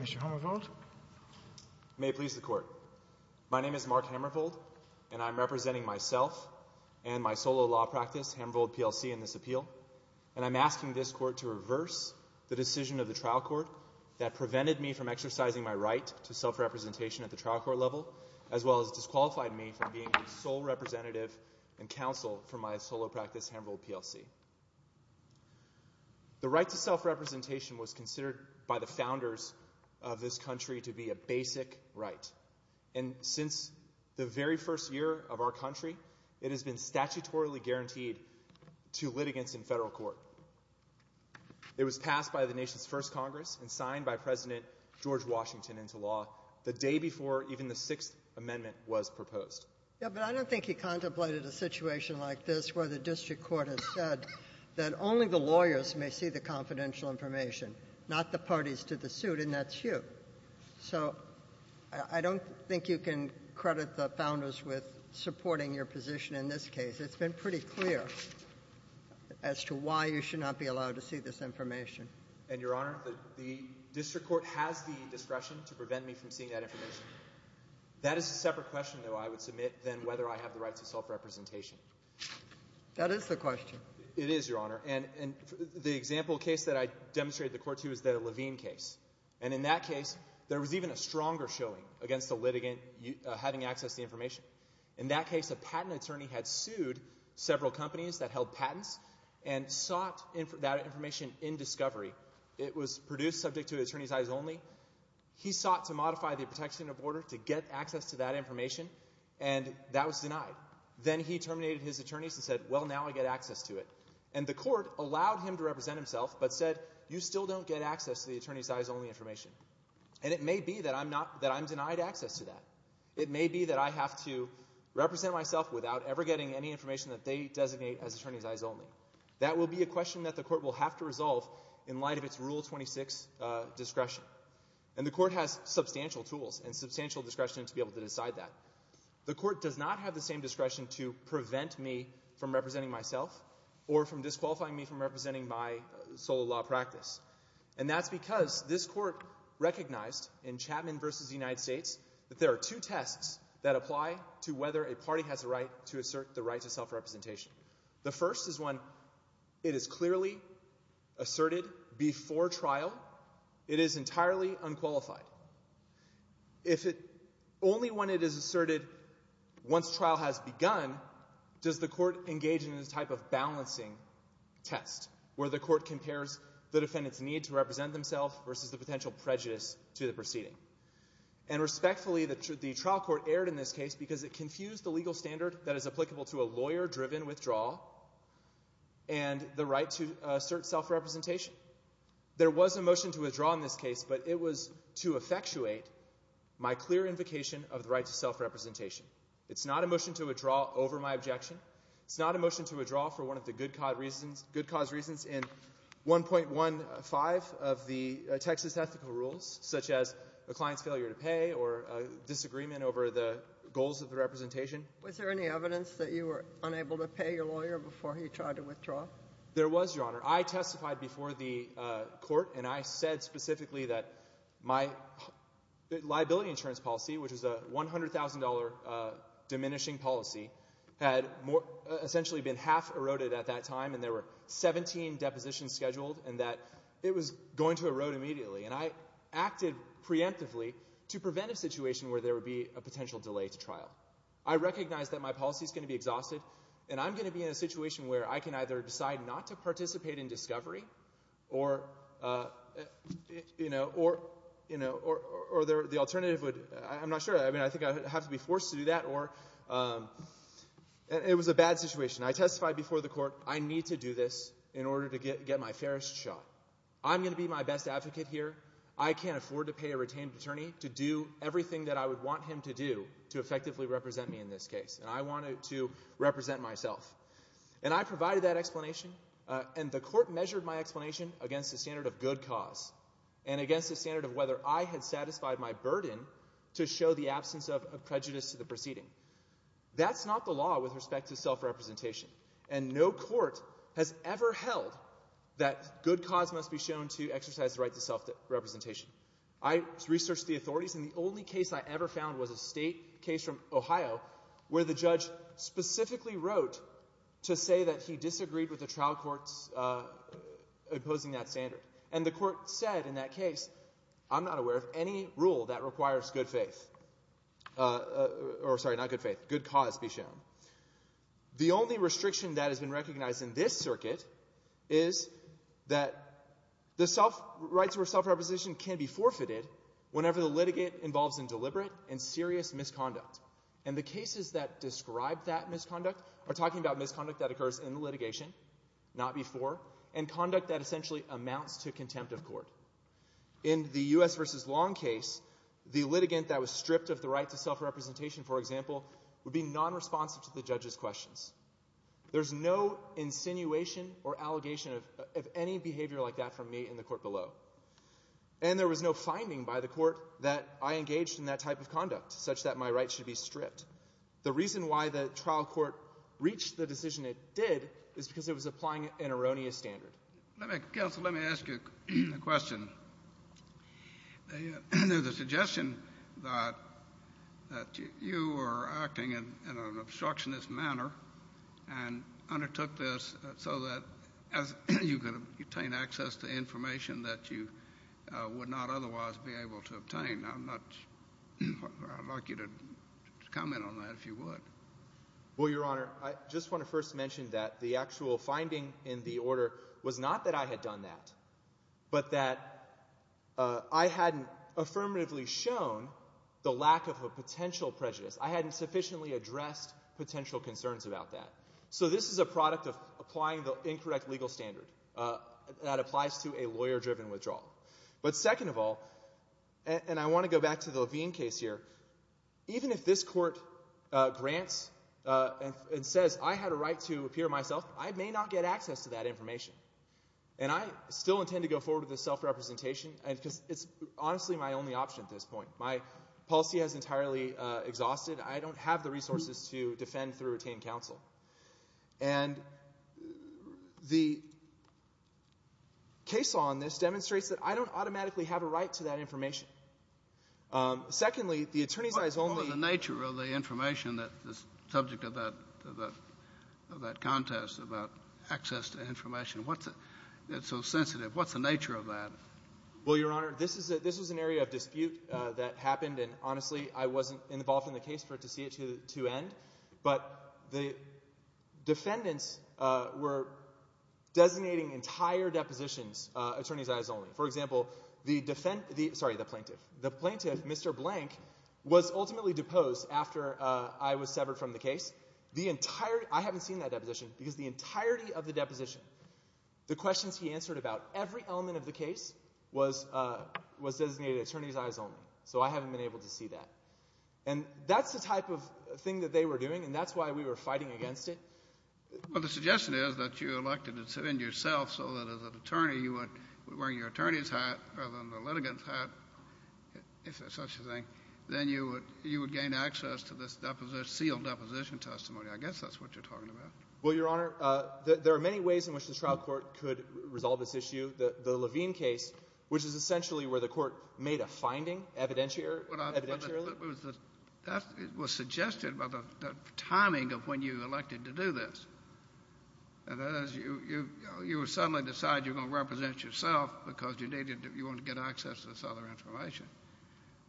Mr. Hammervold, may I please the court. My name is Mark Hammervold and I'm representing myself and my solo law practice, Hammervold PLC, in this appeal. And I'm asking this court to reverse the decision of the trial court that prevented me from exercising my right to self-representation at the trial court level, as well as disqualified me from being a sole representative and counsel for my solo practice, Hammervold PLC. The right to self-representation was considered by the founders of this country to be a basic right. And since the very first year of our country, it has been statutorily guaranteed to litigants in federal court. It was passed by the nation's first Congress and signed by President George Washington into law the day before even the Sixth Amendment was proposed. Ginsburg. Yeah, but I don't think he contemplated a situation like this where the district court has said that only the lawyers may see the confidential information, not the parties to the suit, and that's you. So I don't think you can credit the founders with supporting your position in this case. It's been pretty clear as to why you should not be allowed to see this information. And Your Honor, the district court has the discretion to prevent me from seeing that information. That is a separate question, though, I would submit than whether I have the right to self-representation. That is the question. It is, Your Honor. And the example case that I demonstrated the court to is the Levine case. And in that case, there was even a stronger showing against the litigant having access to the information. In that case, a patent attorney had sued several companies that held patents and sought that information in discovery. It was produced subject to an attorney's eyes only. He sought to modify the protection of order to get access to that information, and that was denied. Then he terminated his attorneys and said, well, now I get access to it. And the court allowed him to represent himself, but said, you still don't get access to the attorney's eyes only information. And it may be that I'm denied access to that. It may be that I have to represent myself without ever getting any information that they designate as attorney's eyes only. That will be a question that the court will have to resolve in light of its Rule 26 discretion. And the court has substantial tools and substantial discretion to be able to decide that. The court does not have the same discretion to prevent me from representing myself or from disqualifying me from representing my sole law practice. And that's because this court recognized in Chapman v. United States that there are two tests that apply to whether a party has a right to assert the right to self-representation. The first is when it is clearly asserted before trial it is entirely unqualified. If it only when it is asserted once trial has begun, does the court engage in this type of balancing test where the court compares the defendant's need to represent themselves versus the potential prejudice to the proceeding. And respectfully, the trial court erred in this case because it confused the legal standard that is applicable to a lawyer-driven withdrawal and the right to assert self-representation. There was a motion to withdraw in this case, but it was to effectuate my clear invocation of the right to self-representation. It's not a motion to withdraw over my objection. It's not a motion to withdraw for one of the good cause reasons in 1.15 of the Texas Ethical Rules, such as a client's failure to pay or a disagreement over the goals of self-representation. Was there any evidence that you were unable to pay your lawyer before he tried to withdraw? There was, Your Honor. I testified before the court, and I said specifically that my liability insurance policy, which is a $100,000 diminishing policy, had essentially been half eroded at that time, and there were 17 depositions scheduled, and that it was going to erode immediately. And I acted preemptively to prevent a situation where there would be a potential delay to trial. I recognize that my policy is going to be exhausted, and I'm going to be in a situation where I can either decide not to participate in discovery, or the alternative would—I'm not sure. I think I'd have to be forced to do that. It was a bad situation. I testified before the court, I need to do this in order to get my farest shot. I'm going to be my best advocate here. I can't afford to pay a retained attorney to do everything that I would want him to do to effectively represent me in this case. And I wanted to represent myself. And I provided that explanation, and the court measured my explanation against the standard of good cause, and against the standard of whether I had satisfied my burden to show the absence of prejudice to the proceeding. That's not the law with respect to self-representation. And no court has ever held that good cause must be shown to exercise the right to self-representation. I researched the authorities, and the only case I ever found was a state case from Ohio where the judge specifically wrote to say that he disagreed with the trial court's opposing that standard. And the court said in that case, I'm not aware of any rule that requires good faith—or sorry, not good faith—good cause be shown. The only restriction that has been recognized in this circuit is that the self—rights of self-representation can be forfeited whenever the litigate involves indeliberate and serious misconduct. And the cases that describe that misconduct are talking about misconduct that occurs in litigation, not before, and conduct that essentially amounts to contempt of court. In the U.S. v. Long case, the litigant that was stripped of the right to self-representation, for example, would be non-responsive to the judge's questions. There's no insinuation or allegation of any behavior like that from me in the court below. And there was no finding by the court that I engaged in that type of conduct, such that my right should be stripped. The reason why the trial court reached the decision it did is because it was applying an erroneous standard. Let me—Counsel, let me ask you a question. There's a suggestion that you were acting in an obstructionist manner and undertook this so that you could obtain access to information that you would not otherwise be able to obtain. I'd like you to comment on that, if you would. Well, Your Honor, I just want to first mention that the actual finding in the order was not that I had done that, but that I hadn't affirmatively shown the lack of a potential prejudice. I hadn't sufficiently addressed potential concerns about that. So this is a product of applying the incorrect legal standard that applies to a lawyer-driven withdrawal. But second of all—and I want to go back to the Levine case here—even if this court grants and says, I had a right to appear myself, I may not get access to that information. And I still intend to go forward with this self-representation, because it's honestly my only option at this point. My policy has entirely exhausted. I don't have the resources to defend through retained counsel. And the case law on this demonstrates that I don't automatically have a right to that information. Secondly, the attorneys' eyes only— What about the nature of the information that's subject to that contest about access to information? What's it—it's so sensitive. What's the nature of that? Well, Your Honor, this was an area of dispute that happened. And honestly, I wasn't involved in the case for it to see it to end. But the defendants were designating entire depositions, attorneys' eyes only. For example, the plaintiff, Mr. Blank, was ultimately deposed after I was severed from the case. I haven't seen that deposition, because the entirety of the case was designated attorneys' eyes only. So I haven't been able to see that. And that's the type of thing that they were doing, and that's why we were fighting against it. Well, the suggestion is that you elected to defend yourself so that as an attorney, you were wearing your attorney's hat rather than the litigant's hat, if there's such a thing. Then you would gain access to this sealed deposition testimony. I guess that's what you're talking about. Well, Your Honor, there are many ways in which the trial court could resolve this issue. The Levine case, which is essentially where the court made a finding evidentiary or evidentiary. Well, that was suggested by the timing of when you elected to do this. And that is you would suddenly decide you're going to represent yourself because you needed to get access to this other information.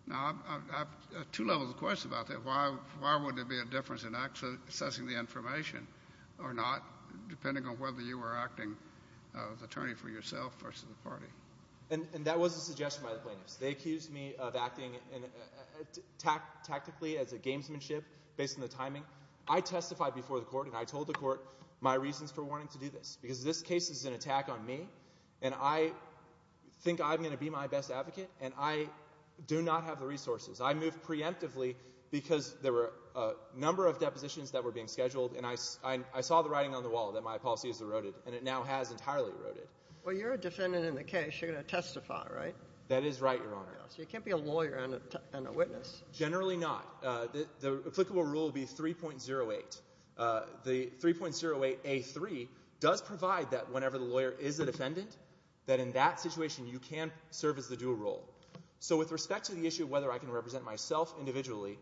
Now, I have two levels of questions about that. Why would there be a difference in accessing the information or not, depending on whether you were acting as attorney for yourself versus the party? And that was a suggestion by the plaintiffs. They accused me of acting tactically as a gamesmanship based on the timing. I testified before the court, and I told the court my reasons for wanting to do this, because this case is an attack on me, and I think I'm going to be my best advocate, and I do not have the resources. I moved preemptively because there were a number of depositions that were being scheduled, and I saw the writing on the wall that my policy is eroded, and it now has entirely eroded. Well, you're a defendant in the case. You're going to testify, right? That is right, Your Honor. So you can't be a lawyer and a witness. Generally not. The applicable rule would be 3.08. The 3.08a3 does provide that whenever the lawyer is a defendant, that in that situation you can serve as the dual role. So with respect to the issue of whether I can represent myself individually,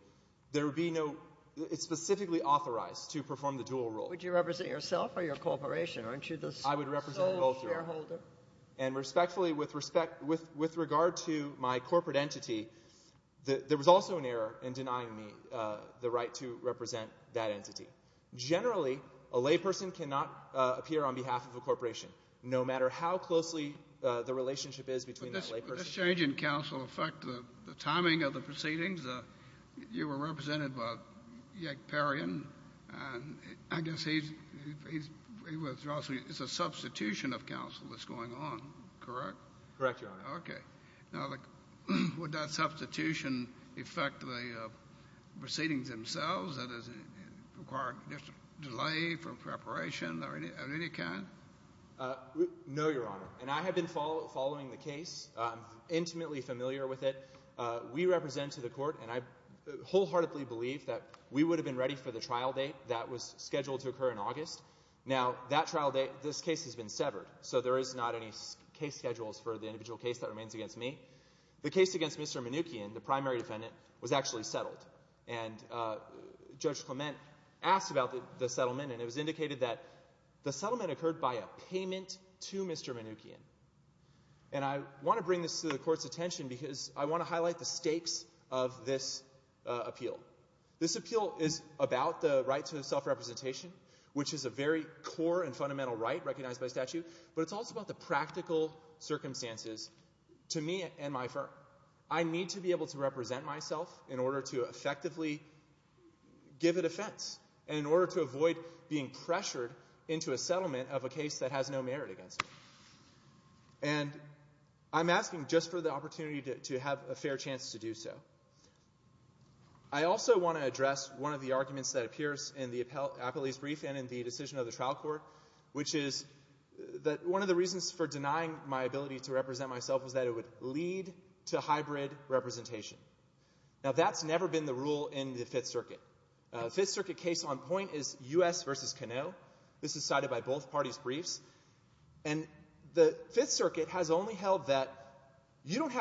there would be no – it's specifically authorized to perform the dual role. Would you represent yourself or your corporation? Aren't you the sole shareholder? I would represent both, Your Honor. And respectfully, with respect – with regard to my corporate entity, there was also an error in denying me the right to represent that entity. Generally, a layperson cannot appear on behalf of a corporation, no matter how closely the relationship is between that layperson – Would this change in counsel affect the timing of the proceedings? You were represented by Yank Perrion, and I guess he's – he was also – it's a substitution of counsel that's going on, correct? Correct, Your Honor. Okay. Now, would that substitution affect the proceedings themselves? Does it require just a delay from preparation of any kind? No, Your Honor. And I have been following the case. I'm intimately familiar with it. We represent to the Court, and I wholeheartedly believe that we would have been ready for the trial date that was scheduled to occur in August. Now, that trial date – this case has been severed, so there is not any case schedules for the individual case that remains against me. The case against Mr. Mnuchin, the primary defendant, was actually settled. And Judge Clement asked about the settlement, and it was indicated that the settlement occurred by a payment to Mr. Mnuchin. And I want to bring this to the Court's attention because I want to highlight the stakes of this appeal. This appeal is about the right to self-representation, which is a very core and fundamental right recognized by statute, but it's also about the practical circumstances to me and my firm. I need to be able to represent myself in order to effectively give a defense and in order to avoid being pressured into a settlement of a case that has no merit against me. And I'm asking just for the opportunity to have a fair chance to do so. I also want to address one of the arguments that appears in the appellee's brief and in the decision of the trial court, which is that one of the reasons for denying my ability to represent myself was that it would lead to hybrid representation. Now, that's never been the rule in the Fifth Circuit. The Fifth Circuit case on point is U.S. v. Canoe. This is cited by both parties' briefs. And the Fifth Circuit has only held that you don't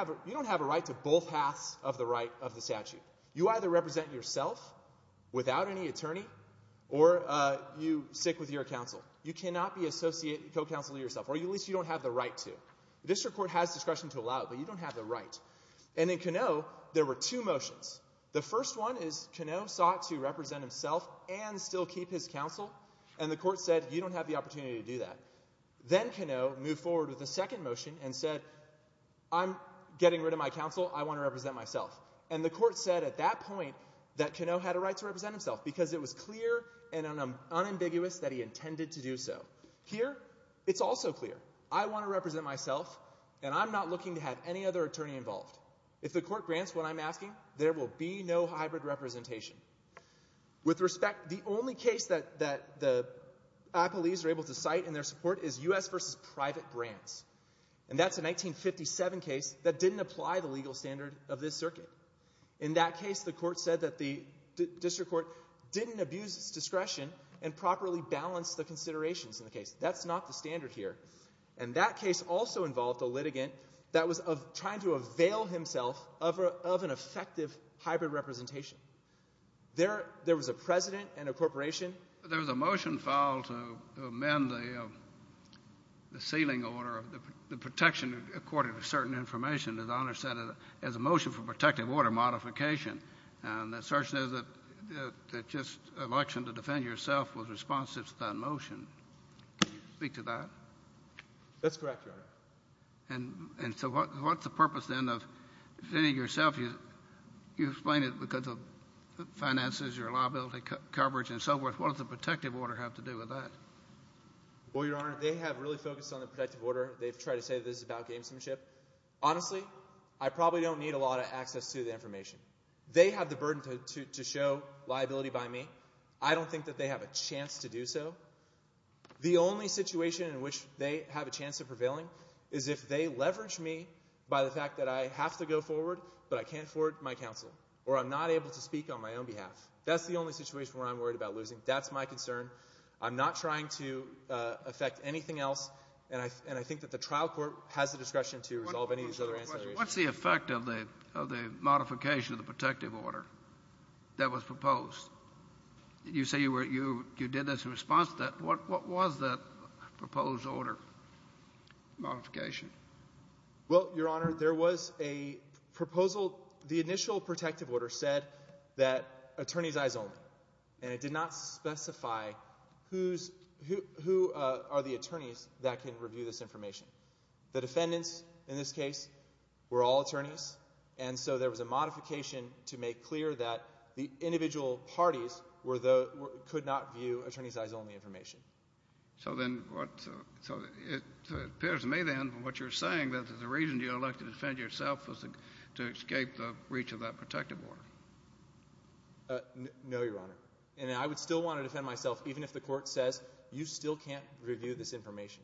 have a right to both halves of the right of the statute. You either represent yourself without any attorney or you stick with your counsel. You cannot be associate and co-counsel yourself, or at least you don't have the right to. The district court has discretion to allow it, but you don't have the right. And in Canoe, there were two motions. The first one is Canoe sought to represent himself and still keep his counsel, and the court said, you don't have the opportunity to do that. Then Canoe moved forward with a second motion and said, I'm getting rid of my counsel. I want to represent myself. And the court said at that point that Canoe had a right to represent himself because it was clear and unambiguous that he intended to do so. Here, it's also clear. I want to represent myself, and I'm not looking to have any other attorney involved. If the court grants what I'm asking, there will be no hybrid representation. With respect, the only case that the Applees are able to cite in their support is U.S. v. Private Brands. And that's a 1957 case that didn't apply the legal standard of this circuit. In that case, the court said that the district court didn't abuse its discretion and properly balance the considerations in the case. That's not the standard here. And that case also involved a litigant that was trying to avail himself of an effective hybrid representation. There was a president and a corporation. There was a motion filed to amend the sealing order, the protection according to certain information, as Honor said, as a motion for protective order modification. And the assertion is that just an election to defend yourself was responsive to that motion. Can you speak to that? That's correct, Your Honor. And so what's the purpose then of defending yourself? You explained it because of finances, your liability coverage, and so forth. What does the protective order have to do with that? Well, Your Honor, they have really focused on the protective order. They've tried to say this is about gamesmanship. Honestly, I probably don't need a lot of access to the information. They have the burden to show liability by me. I don't think that they have a chance to do so. The only situation in which they have a chance of prevailing is if they leverage me by the fact that I have to go forward, but I can't afford my counsel or I'm not able to speak on my own behalf. That's the only situation where I'm worried about losing. That's my concern. I'm not trying to affect anything else. And I think that the trial court has the discretion to resolve any of these other considerations. What's the effect of the modification of the protective order that was proposed? You say you did this in response to that. What was that proposed order modification? Well, Your Honor, there was a proposal. The initial protective order said that attorneys eyes only, and it did not specify who are the attorneys that can review this information. The defendants in this case were all attorneys, and so there was a modification to make clear that the individual parties could not view attorneys eyes only information. So it appears to me then from what you're saying that the reason you elected to defend yourself was to escape the reach of that protective order. No, Your Honor. And I would still want to defend myself even if the court says you still can't review this information.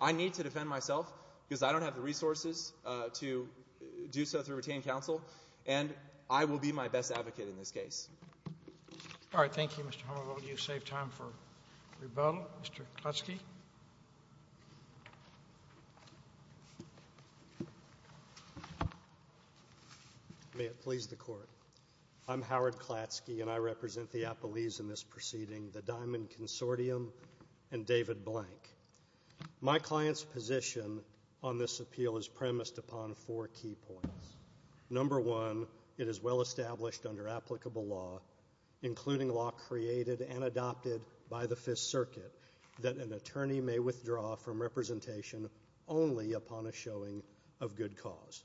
I need to defend myself because I don't have the resources to do so through retained counsel, and I will be my best advocate in this case. All right. Thank you, Mr. Hummel. I'll let you save time for rebuttal. Mr. Klatsky. May it please the Court. I'm Howard Klatsky, and I represent the Appellees in this proceeding, the Diamond Consortium and David Blank. My client's position on this appeal is premised upon four key points. Number one, it is well established under applicable law, including law created and adopted by the Fifth Circuit, that an attorney may withdraw from representation only upon a showing of good cause.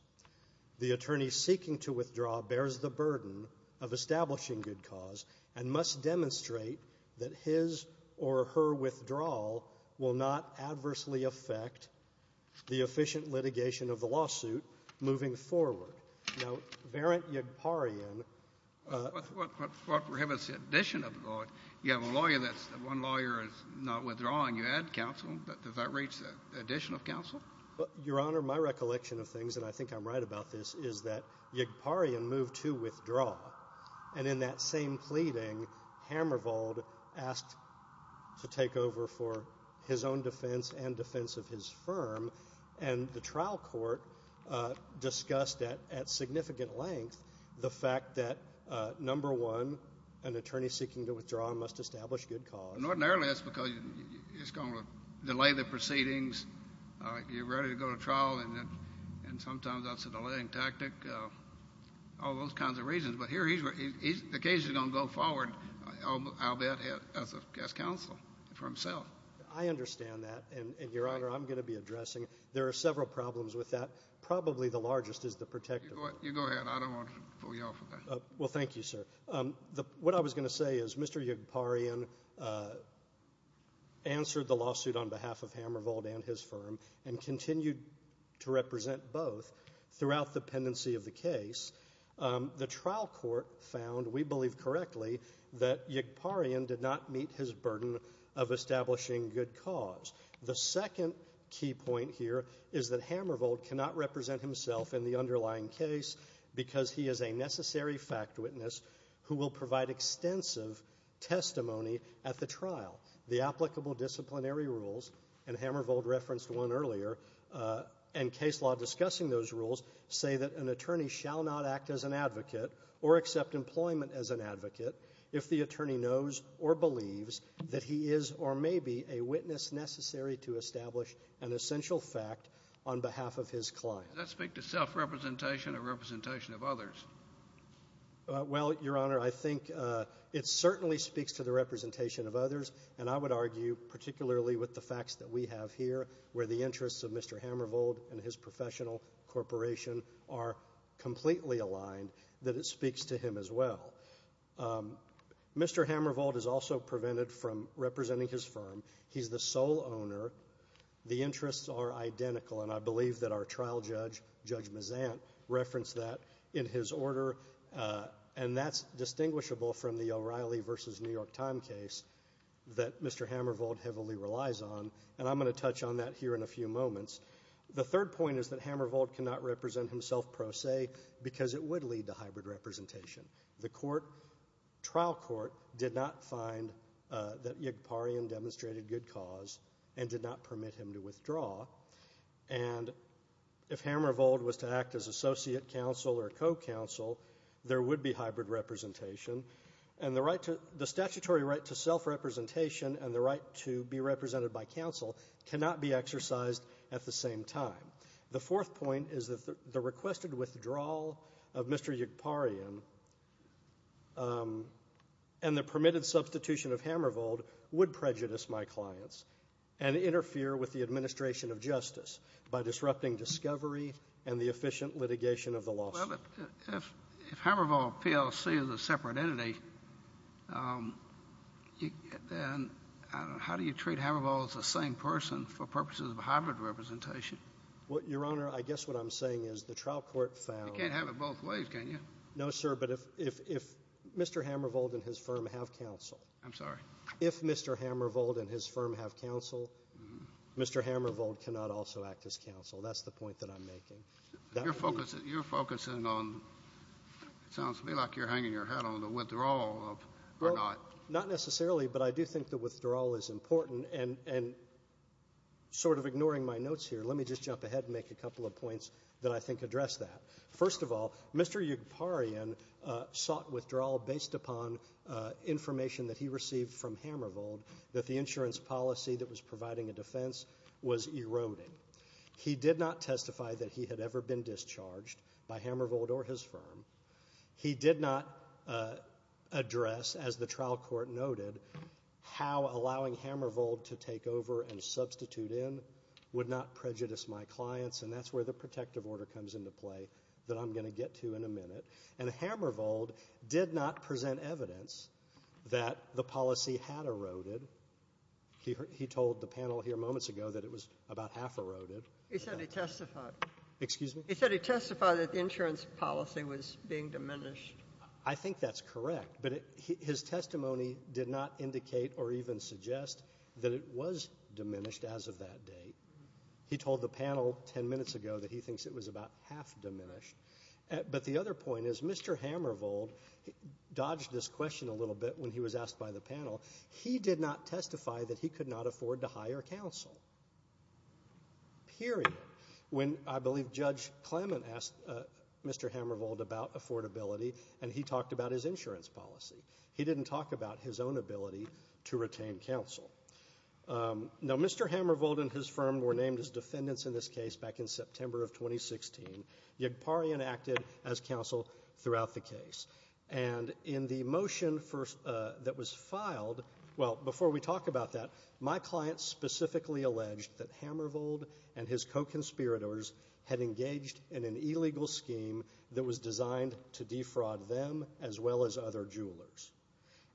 The attorney seeking to withdraw bears the burden of establishing good cause and must demonstrate that his or her withdrawal will not adversely affect the efficient litigation of the lawsuit moving forward. Now, Verrant Yagparian — What prohibits the addition of a lawyer? You have a lawyer that's — one lawyer is not withdrawing. You add counsel. Does that reach the addition of counsel? Your Honor, my recollection of things, and I think I'm right about this, is that Yagparian moved to withdraw. And in that same pleading, Hamervold asked to take over for his own defense and defense of his firm, and the trial court discussed at significant length the fact that, number one, an attorney seeking to withdraw must establish good cause. And ordinarily that's because it's going to delay the proceedings. You're ready to go to trial, and sometimes that's a delaying tactic, all those kinds of reasons. But here he's — the case is going to go forward, I'll bet, as counsel for himself. I understand that, and, Your Honor, I'm going to be addressing it. There are several problems with that. Probably the largest is the protective law. You go ahead. I don't want to pull you off of that. Well, thank you, sir. What I was going to say is Mr. Yagparian answered the lawsuit on behalf of Hamervold and his firm, and continued to represent both throughout the pendency of the case. The trial court found, we believe correctly, that Yagparian did not meet his burden of establishing good cause. The second key point here is that Hamervold cannot represent himself in the underlying case because he is a necessary fact witness who will provide extensive testimony at the trial. The applicable disciplinary rules, and Hamervold referenced one earlier, and case law discussing those rules say that an attorney shall not act as an advocate or accept employment as an advocate if the attorney knows or believes that he is or may be a witness necessary to establish an essential fact on behalf of his client. Does that speak to self-representation or representation of others? Well, Your Honor, I think it certainly speaks to the representation of others, and I would argue, particularly with the facts that we have here where the interests of Mr. Hamervold and his professional corporation are completely aligned, that it speaks to him as well. Mr. Hamervold is also prevented from representing his firm. He's the sole owner. The interests are identical, and I believe that our trial judge, Judge Mazant, referenced that in his order, and that's distinguishable from the O'Reilly v. New York Time case that Mr. Hamervold heavily relies on, and I'm going to touch on that here in a few moments. The third point is that Hamervold cannot represent himself, per se, because it would lead to hybrid representation. The trial court did not find that Yigparian demonstrated good cause and did not permit him to withdraw, and if Hamervold was to act as associate counsel or co-counsel, there would be hybrid representation. And the statutory right to self-representation and the right to be represented by counsel cannot be exercised at the same time. The fourth point is that the requested withdrawal of Mr. Yigparian and the permitted substitution of Hamervold would prejudice my clients and interfere with the administration of justice by disrupting discovery and the efficient litigation of the lawsuit. Well, if Hamervold PLC is a separate entity, then how do you treat Hamervold as the same person for purposes of hybrid representation? Your Honor, I guess what I'm saying is the trial court found — You can't have it both ways, can you? No, sir, but if Mr. Hamervold and his firm have counsel — I'm sorry? If Mr. Hamervold and his firm have counsel, Mr. Hamervold cannot also act as counsel. That's the point that I'm making. You're focusing on — it sounds to me like you're hanging your hat on the withdrawal or not. Well, not necessarily, but I do think the withdrawal is important, and sort of ignoring my notes here, let me just jump ahead and make a couple of points that I think address that. First of all, Mr. Yugoparian sought withdrawal based upon information that he received from Hamervold that the insurance policy that was providing a defense was eroding. He did not testify that he had ever been discharged by Hamervold or his firm. He did not address, as the trial court noted, how allowing Hamervold to take over and substitute in would not prejudice my clients, and that's where the protective order comes into play that I'm going to get to in a minute. And Hamervold did not present evidence that the policy had eroded. He told the panel here moments ago that it was about half eroded. He said he testified. Excuse me? He said he testified that the insurance policy was being diminished. I think that's correct, but his testimony did not indicate or even suggest that it was diminished as of that date. He told the panel 10 minutes ago that he thinks it was about half diminished. But the other point is Mr. Hamervold dodged this question a little bit when he was asked by the panel. He did not testify that he could not afford to hire counsel, period. When, I believe, Judge Clement asked Mr. Hamervold about affordability, and he talked about his insurance policy. He didn't talk about his own ability to retain counsel. Now, Mr. Hamervold and his firm were named as defendants in this case back in September of 2016. Yegparian acted as counsel throughout the case. And in the motion that was filed, well, before we talk about that, my clients specifically alleged that Hamervold and his co-conspirators had engaged in an illegal scheme that was designed to defraud them as well as other jewelers.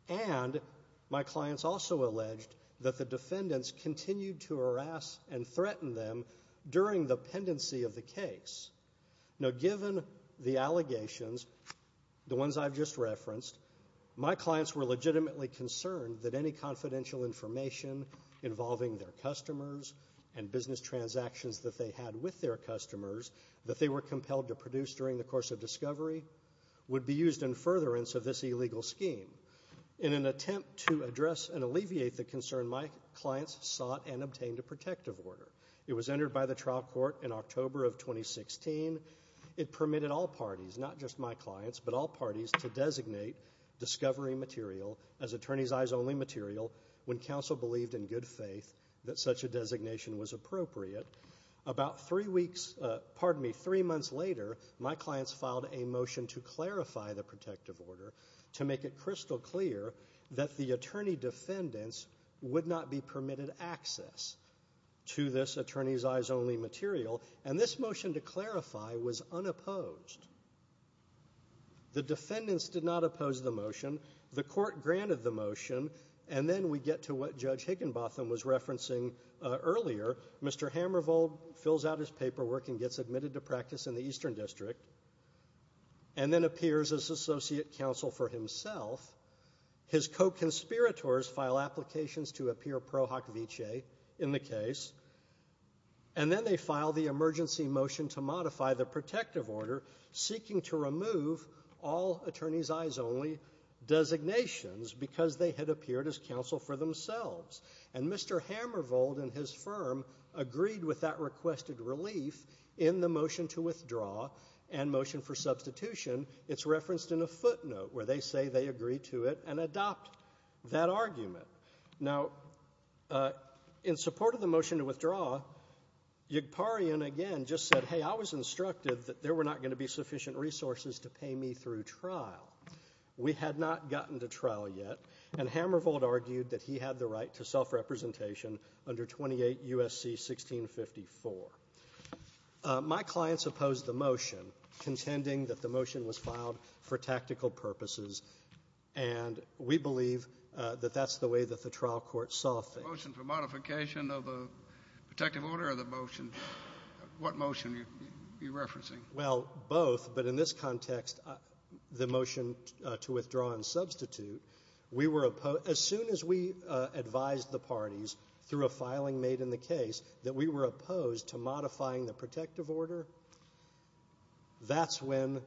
And my clients also alleged that the defendants continued to harass and threaten them during the pendency of the case. Now, given the allegations, the ones I've just referenced, my clients were legitimately concerned that any confidential information involving their customers and business transactions that they had with their customers that they were compelled to produce during the course of discovery would be used in furtherance of this illegal scheme. In an attempt to address and alleviate the concern, my clients sought and obtained a protective order. It was entered by the trial court in October of 2016. It permitted all parties, not just my clients, but all parties to designate discovery material as attorneys' eyes only material when counsel believed in good faith that such a designation was appropriate. About three weeks, pardon me, three months later, my clients filed a motion to clarify the protective order to make it crystal clear that the attorney defendants would not be permitted access to this attorneys' eyes only material. And this motion to clarify was unopposed. The defendants did not oppose the motion. The court granted the motion. And then we get to what Judge Higginbotham was referencing earlier. Mr. Hammervold fills out his paperwork and gets admitted to practice in the Eastern District and then appears as associate counsel for himself. His co-conspirators file applications to appear pro hoc vicee in the case. And then they file the emergency motion to modify the protective order seeking to remove all attorneys' eyes only designations because they had appeared as counsel for themselves. And Mr. Hammervold and his firm agreed with that requested relief in the motion to withdraw and motion for substitution. It's referenced in a footnote where they say they agree to it and adopt that argument. Now, in support of the motion to withdraw, Yigparian again just said, hey, I was instructed that there were not going to be sufficient resources to pay me through trial. We had not gotten to trial yet. And Hammervold argued that he had the right to self-representation under 28 U.S.C. 1654. My clients opposed the motion contending that the motion was filed for tactical purposes. And we believe that that's the way that the trial court saw things. The motion for modification of the protective order or the motion? What motion are you referencing? Well, both. But in this context, the motion to withdraw and substitute, as soon as we advised the parties through a filing made in the case that we were opposed to modifying the protective order, that's when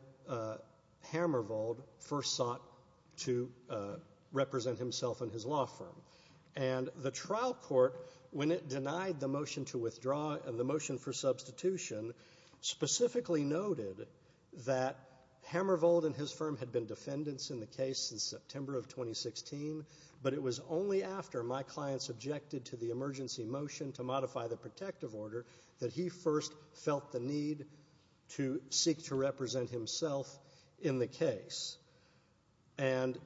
Hammervold first sought to represent himself and his law firm. And the trial court, when it denied the motion to withdraw and the motion for substitution, specifically noted that Hammervold and his firm had been defendants in the case since September of 2016, but it was only after my clients objected to the emergency motion to modify the protective order that he first felt the need to seek to represent himself in the case. And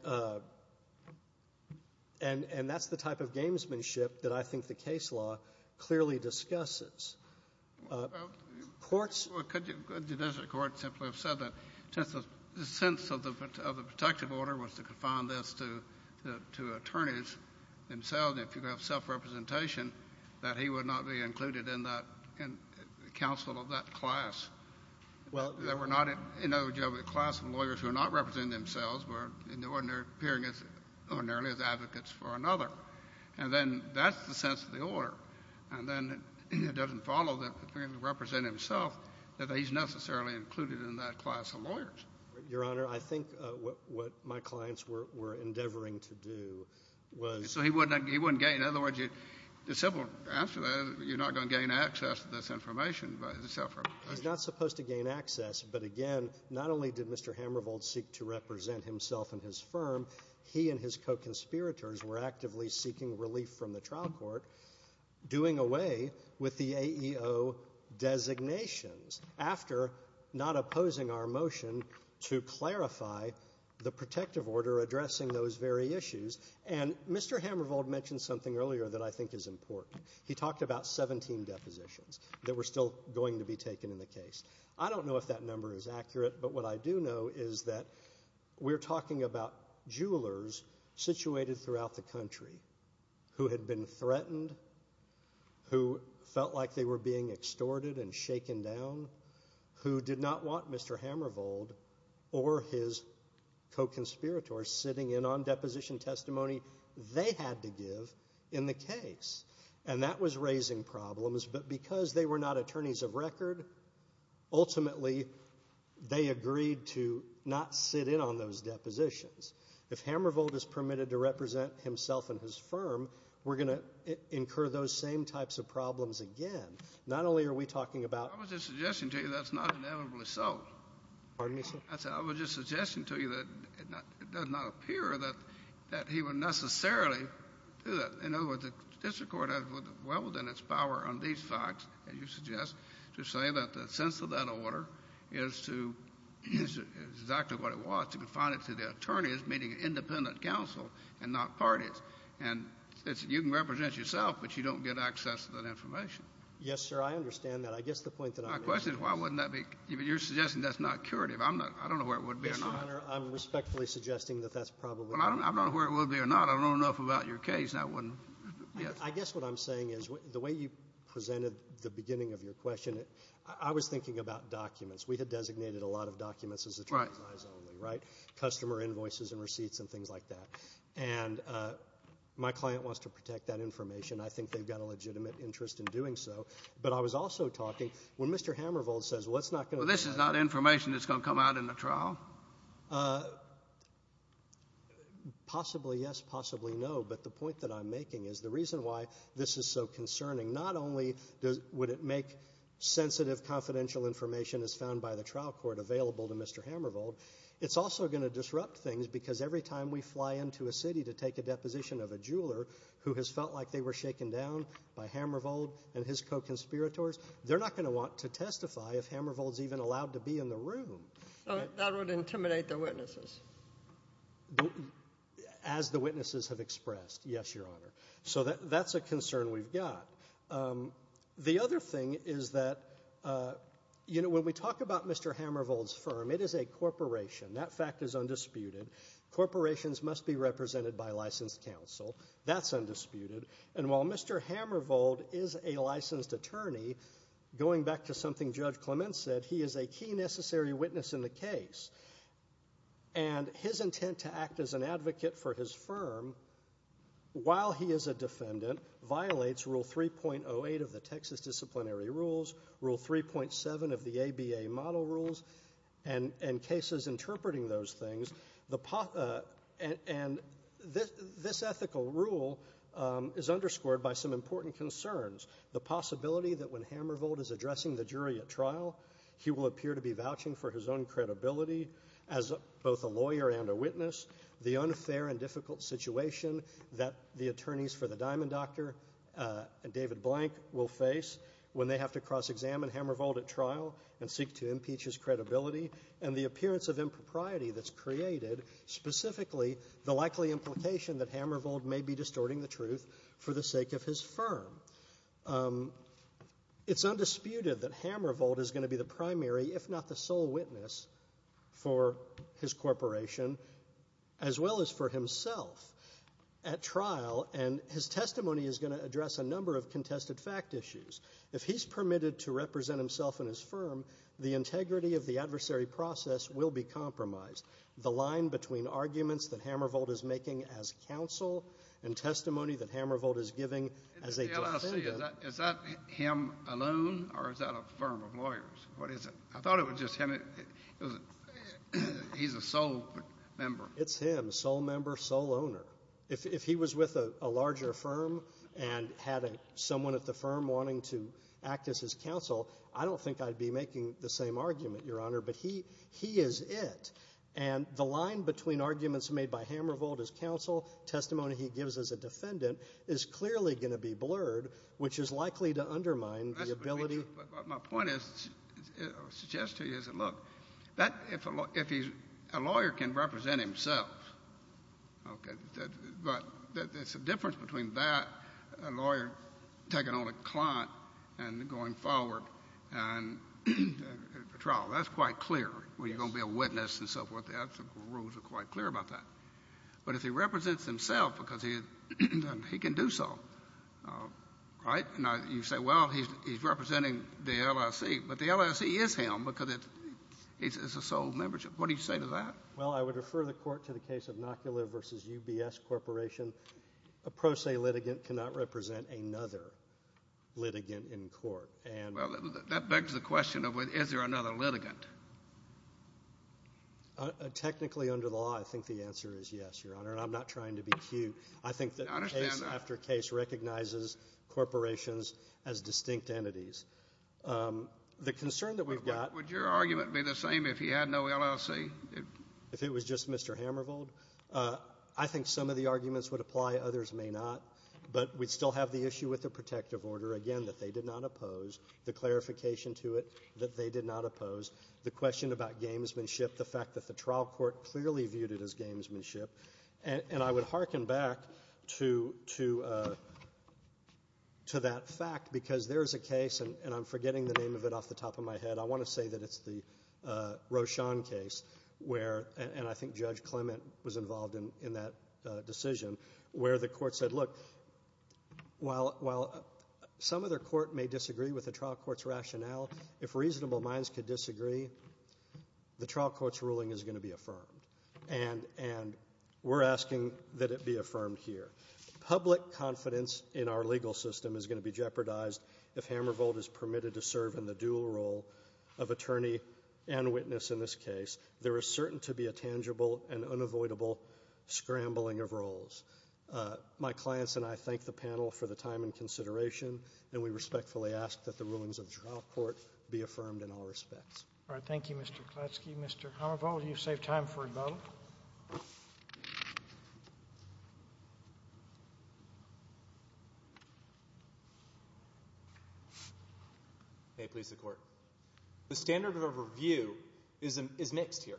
that's the type of gamesmanship that I think the case law clearly discusses. Courts — Well, could the district court simply have said that since the sense of the protective order was to confine this to attorneys themselves, if you have self-representation, that he would not be included in that council of that class? Well — That we're not in a class of lawyers who are not representing themselves, but are appearing ordinarily as advocates for another. And then that's the sense of the order. And then it doesn't follow that if he's going to represent himself, that he's necessarily included in that class of lawyers. Your Honor, I think what my clients were endeavoring to do was — So he wouldn't get — In other words, it's simple. After that, you're not going to gain access to this information by the self-representation. He's not supposed to gain access. But again, not only did Mr. Hammervold seek to represent himself and his firm, he and his co-conspirators were actively seeking relief from the trial court, doing away with the AEO designations after not opposing our motion to clarify the protective order addressing those very issues. And Mr. Hammervold mentioned something earlier that I think is important. He talked about 17 depositions that were still going to be taken in the case. I don't know if that number is accurate, but what I do know is that we're talking about jewelers situated throughout the country who had been threatened, who felt like they were being extorted and shaken down, who did not want Mr. Hammervold or his co-conspirators sitting in on deposition testimony they had to give in the case. And that was raising problems, but because they were not attorneys of record, ultimately they agreed to not sit in on those depositions. If Hammervold is permitted to represent himself and his firm, we're going to incur those same types of problems again. Not only are we talking about — I was just suggesting to you that's not inevitably so. Pardon me, sir? I was just suggesting to you that it does not appear that he would necessarily do that. In other words, the district court has well within its power on these facts, as you suggest, to say that the sense of that order is to use exactly what it was to confine it to the attorneys meeting an independent counsel and not parties. And you can represent yourself, but you don't get access to that information. Yes, sir. I understand that. I guess the point that I'm making — My question is why wouldn't that be — you're suggesting that's not curative. I'm not — I don't know where it would be or not. Mr. Conner, I'm respectfully suggesting that that's probably — Well, I don't know where it would be or not. I don't know enough about your case, and I wouldn't — yes. I guess what I'm saying is the way you presented the beginning of your question, I was thinking about documents. We had designated a lot of documents as attorneys' eyes only, right? Right. Customer invoices and receipts and things like that. And my client wants to protect that information. I think they've got a legitimate interest in doing so. But I was also talking, when Mr. Hammervold says, well, it's not going to — Well, this is not information that's going to come out in the trial. Possibly yes, possibly no. But the point that I'm making is the reason why this is so concerning, not only would it make sensitive confidential information as found by the trial court available to Mr. Hammervold, it's also going to disrupt things, because every time we fly into a city to take a deposition of a jeweler who has felt like they were shaken down by Hammervold and his co-conspirators, they're not going to want to testify if Hammervold's even allowed to be in the room. So that would intimidate the witnesses? As the witnesses have expressed, yes, Your Honor. So that's a concern we've got. The other thing is that, you know, when we talk about Mr. Hammervold's firm, it is a corporation. That fact is undisputed. Corporations must be represented by licensed counsel. That's undisputed. And while Mr. Hammervold is a licensed attorney, going back to something Judge Clement said, he is a key necessary witness in the case. And his intent to act as an advocate for his firm while he is a defendant violates Rule 3.08 of the Texas Disciplinary Rules, Rule 3.7 of the ABA Model Rules, and cases interpreting those things. And this ethical rule is underscored by some important concerns, the possibility that when Hammervold is addressing the jury at trial, he will appear to be vouching for his own credibility as both a lawyer and a witness, the unfair and difficult situation that the attorneys for the Diamond Doctor and David Blank will face when they have to cross-examine Hammervold at trial and seek to impeach his credibility, and the appearance of impropriety that's created, specifically the likely implication that Hammervold may be distorting the truth for the sake of his firm. It's undisputed that Hammervold is going to be the primary, if not the sole witness, for his corporation as well as for himself at trial. And his testimony is going to address a number of contested fact issues. If he's permitted to represent himself in his firm, the integrity of the adversary process will be compromised. The line between arguments that Hammervold is making as counsel and testimony that Hammervold is giving as a defendant. Is that him alone or is that a firm of lawyers? What is it? I thought it was just him. He's a sole member. It's him, sole member, sole owner. If he was with a larger firm and had someone at the firm wanting to act as his counsel, I don't think I'd be making the same argument, Your Honor. But he is it. And the line between arguments made by Hammervold as counsel, testimony he gives as a defendant, is clearly going to be blurred, which is likely to undermine the ability. My point is, I suggest to you, is that, look, if a lawyer can represent himself, okay, but there's a difference between that, a lawyer taking on a client, and going forward for trial. That's quite clear when you're going to be a witness and so forth. The rules are quite clear about that. But if he represents himself, because he can do so, right? Now, you say, well, he's representing the LIC. But the LIC is him because it's a sole membership. What do you say to that? Well, I would refer the Court to the case of Nocula v. UBS Corporation. A pro se litigant cannot represent another litigant in court. Well, that begs the question of, is there another litigant? Technically, under the law, I think the answer is yes, Your Honor. And I'm not trying to be cute. I think that case after case recognizes corporations as distinct entities. The concern that we've got -- Would your argument be the same if he had no LIC? If it was just Mr. Hammervold? I think some of the arguments would apply. Others may not. But we'd still have the issue with the protective order, again, that they did not oppose, the clarification to it that they did not oppose, the question about gamesmanship, the fact that the trial court clearly viewed it as gamesmanship. And I would hearken back to that fact because there is a case, and I'm forgetting the name of it off the top of my head, I want to say that it's the Rochon case where, and I think Judge Clement was involved in that decision, where the court said, look, while some other court may disagree with the trial court's rationale, if reasonable minds could disagree, the trial court's ruling is going to be affirmed. And we're asking that it be affirmed here. Public confidence in our legal system is going to be jeopardized if Hammervold is permitted to serve in the dual role of attorney and witness in this case. There is certain to be a tangible and unavoidable scrambling of roles. My clients and I thank the panel for the time and consideration, and we respectfully ask that the rulings of the trial court be affirmed in all respects. All right. Thank you, Mr. Klatsky. Thank you, Mr. Hammervold. You've saved time for a moment. May it please the Court. The standard of review is mixed here.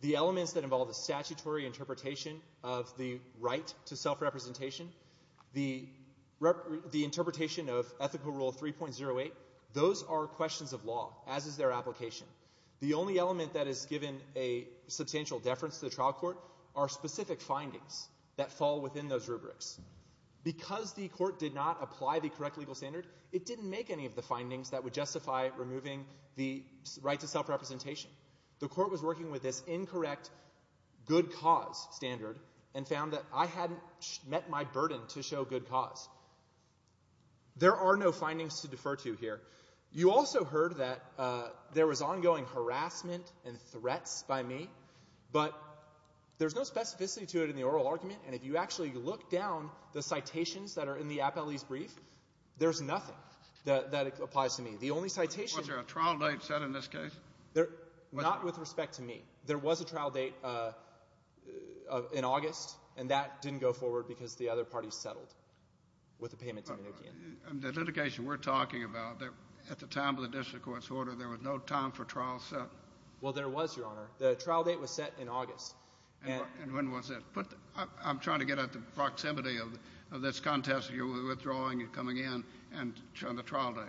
The elements that involve the statutory interpretation of the right to self-representation, the interpretation of Ethical Rule 3.08, those are questions of law, as is their application. The only element that is given a substantial deference to the trial court are specific findings that fall within those rubrics. Because the court did not apply the correct legal standard, it didn't make any of the findings that would justify removing the right to self-representation. The court was working with this incorrect good cause standard and found that I hadn't met my burden to show good cause. There are no findings to defer to here. You also heard that there was ongoing harassment and threats by me, but there's no specificity to it in the oral argument, and if you actually look down the citations that are in the appellee's brief, there's nothing that applies to me. The only citation that applies to me. Was there a trial date set in this case? Not with respect to me. There was a trial date in August, and that didn't go forward because the other parties settled with the payment to Mnuchin. The litigation we're talking about, at the time of the district court's order, there was no time for trial set? Well, there was, Your Honor. The trial date was set in August. And when was it? I'm trying to get at the proximity of this contest. You were withdrawing and coming in on the trial date.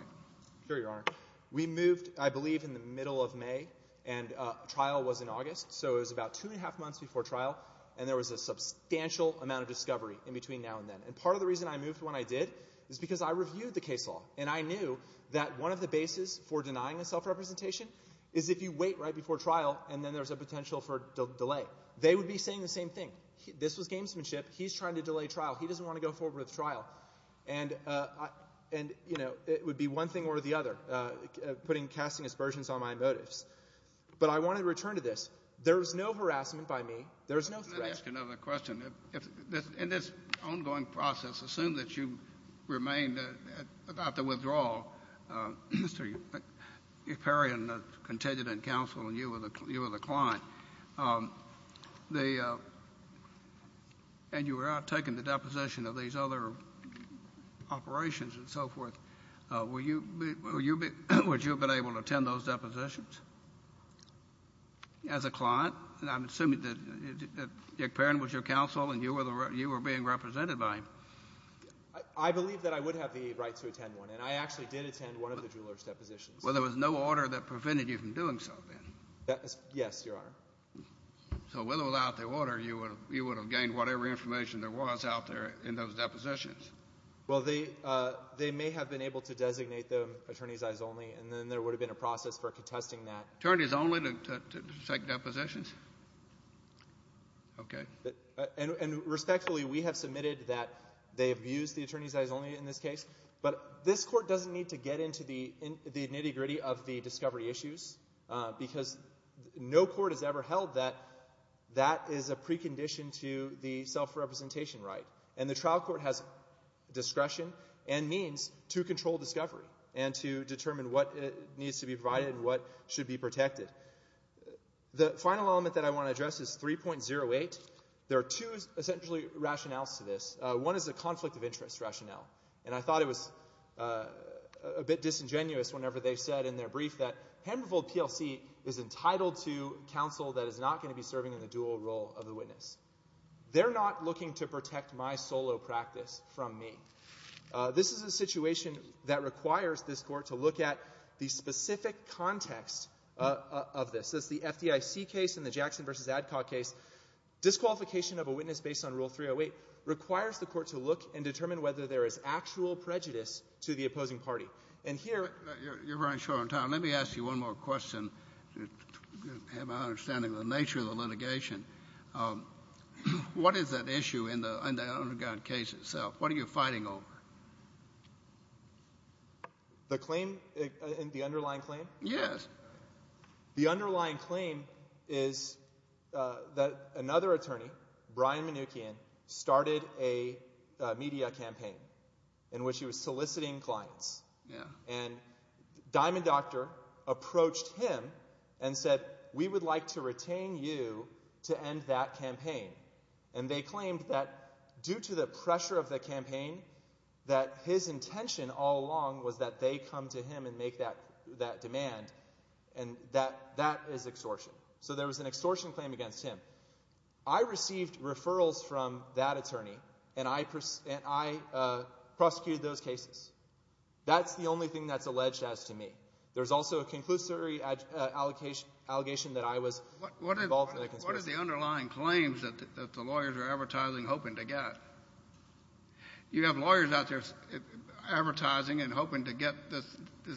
Sure, Your Honor. We moved, I believe, in the middle of May, and trial was in August, so it was about two and a half months before trial, and there was a substantial amount of discovery in between now and then. And part of the reason I moved when I did is because I reviewed the case law, and I knew that one of the bases for denying a self-representation is if you wait right before trial and then there's a potential for delay. They would be saying the same thing. This was gamesmanship. He's trying to delay trial. He doesn't want to go forward with trial. And, you know, it would be one thing or the other, casting aspersions on my motives. But I want to return to this. There was no harassment by me. There was no threat. Let me ask another question. In this ongoing process, assume that you remained without the withdrawal. Mr. McPheron continued in counsel, and you were the client. And you were out taking the deposition of these other operations and so forth. Would you have been able to attend those depositions as a client? I'm assuming that Dick Pheron was your counsel and you were being represented by him. I believe that I would have the right to attend one. And I actually did attend one of the jeweler's depositions. Well, there was no order that prevented you from doing so then? Yes, Your Honor. So without the order, you would have gained whatever information there was out there in those depositions? Well, they may have been able to designate them attorneys' eyes only, and then there would have been a process for contesting that. Attorneys only to take depositions? Okay. And respectfully, we have submitted that they have used the attorneys' eyes only in this case. But this Court doesn't need to get into the nitty-gritty of the discovery issues because no court has ever held that that is a precondition to the self-representation right. And the trial court has discretion and means to control discovery and to determine what needs to be provided and what should be protected. The final element that I want to address is 3.08. There are two, essentially, rationales to this. One is a conflict of interest rationale. And I thought it was a bit disingenuous whenever they said in their brief that Handful PLC is entitled to counsel that is not going to be serving in the dual role of the witness. They're not looking to protect my solo practice from me. This is a situation that requires this Court to look at the specific context of this. That's the FDIC case and the Jackson v. Adcock case. Disqualification of a witness based on Rule 308 requires the Court to look and determine whether there is actual prejudice to the opposing party. And here — You're running short on time. Let me ask you one more question to have an understanding of the nature of the litigation. What is that issue in the Underground case itself? What are you fighting over? The claim — the underlying claim? Yes. The underlying claim is that another attorney, Brian Mnookin, started a media campaign in which he was soliciting clients. And Diamond Doctor approached him and said, We would like to retain you to end that campaign. And they claimed that due to the pressure of the campaign, that his intention all along was that they come to him and make that demand, and that that is extortion. So there was an extortion claim against him. I received referrals from that attorney, and I prosecuted those cases. That's the only thing that's alleged as to me. There's also a conclusory allegation that I was involved in the conspiracy. What are the underlying claims that the lawyers are advertising, hoping to get? You have lawyers out there advertising and hoping to get this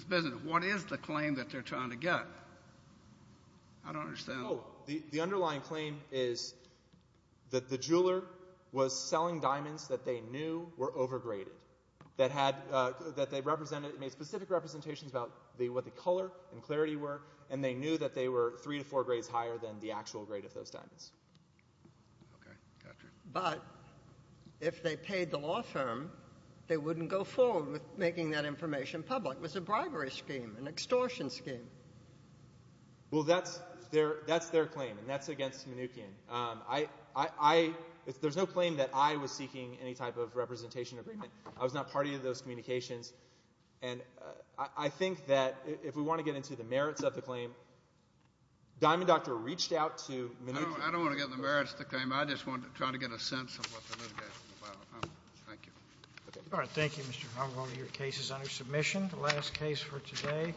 business. What is the claim that they're trying to get? I don't understand. Oh, the underlying claim is that the jeweler was selling diamonds that they knew were overgraded, that they made specific representations about what the color and clarity were, and they knew that they were three to four grades higher than the actual grade of those diamonds. But if they paid the law firm, they wouldn't go forward with making that information public. It was a bribery scheme, an extortion scheme. Well, that's their claim, and that's against Mnuchin. There's no claim that I was seeking any type of representation agreement. I was not party to those communications. And I think that if we want to get into the merits of the claim, Diamond Doctor reached out to Mnuchin. I don't want to get into the merits of the claim. I just want to try to get a sense of what the litigation is about. Thank you. All right. Thank you, Mr. Hummel. Your case is under submission. The last case for today.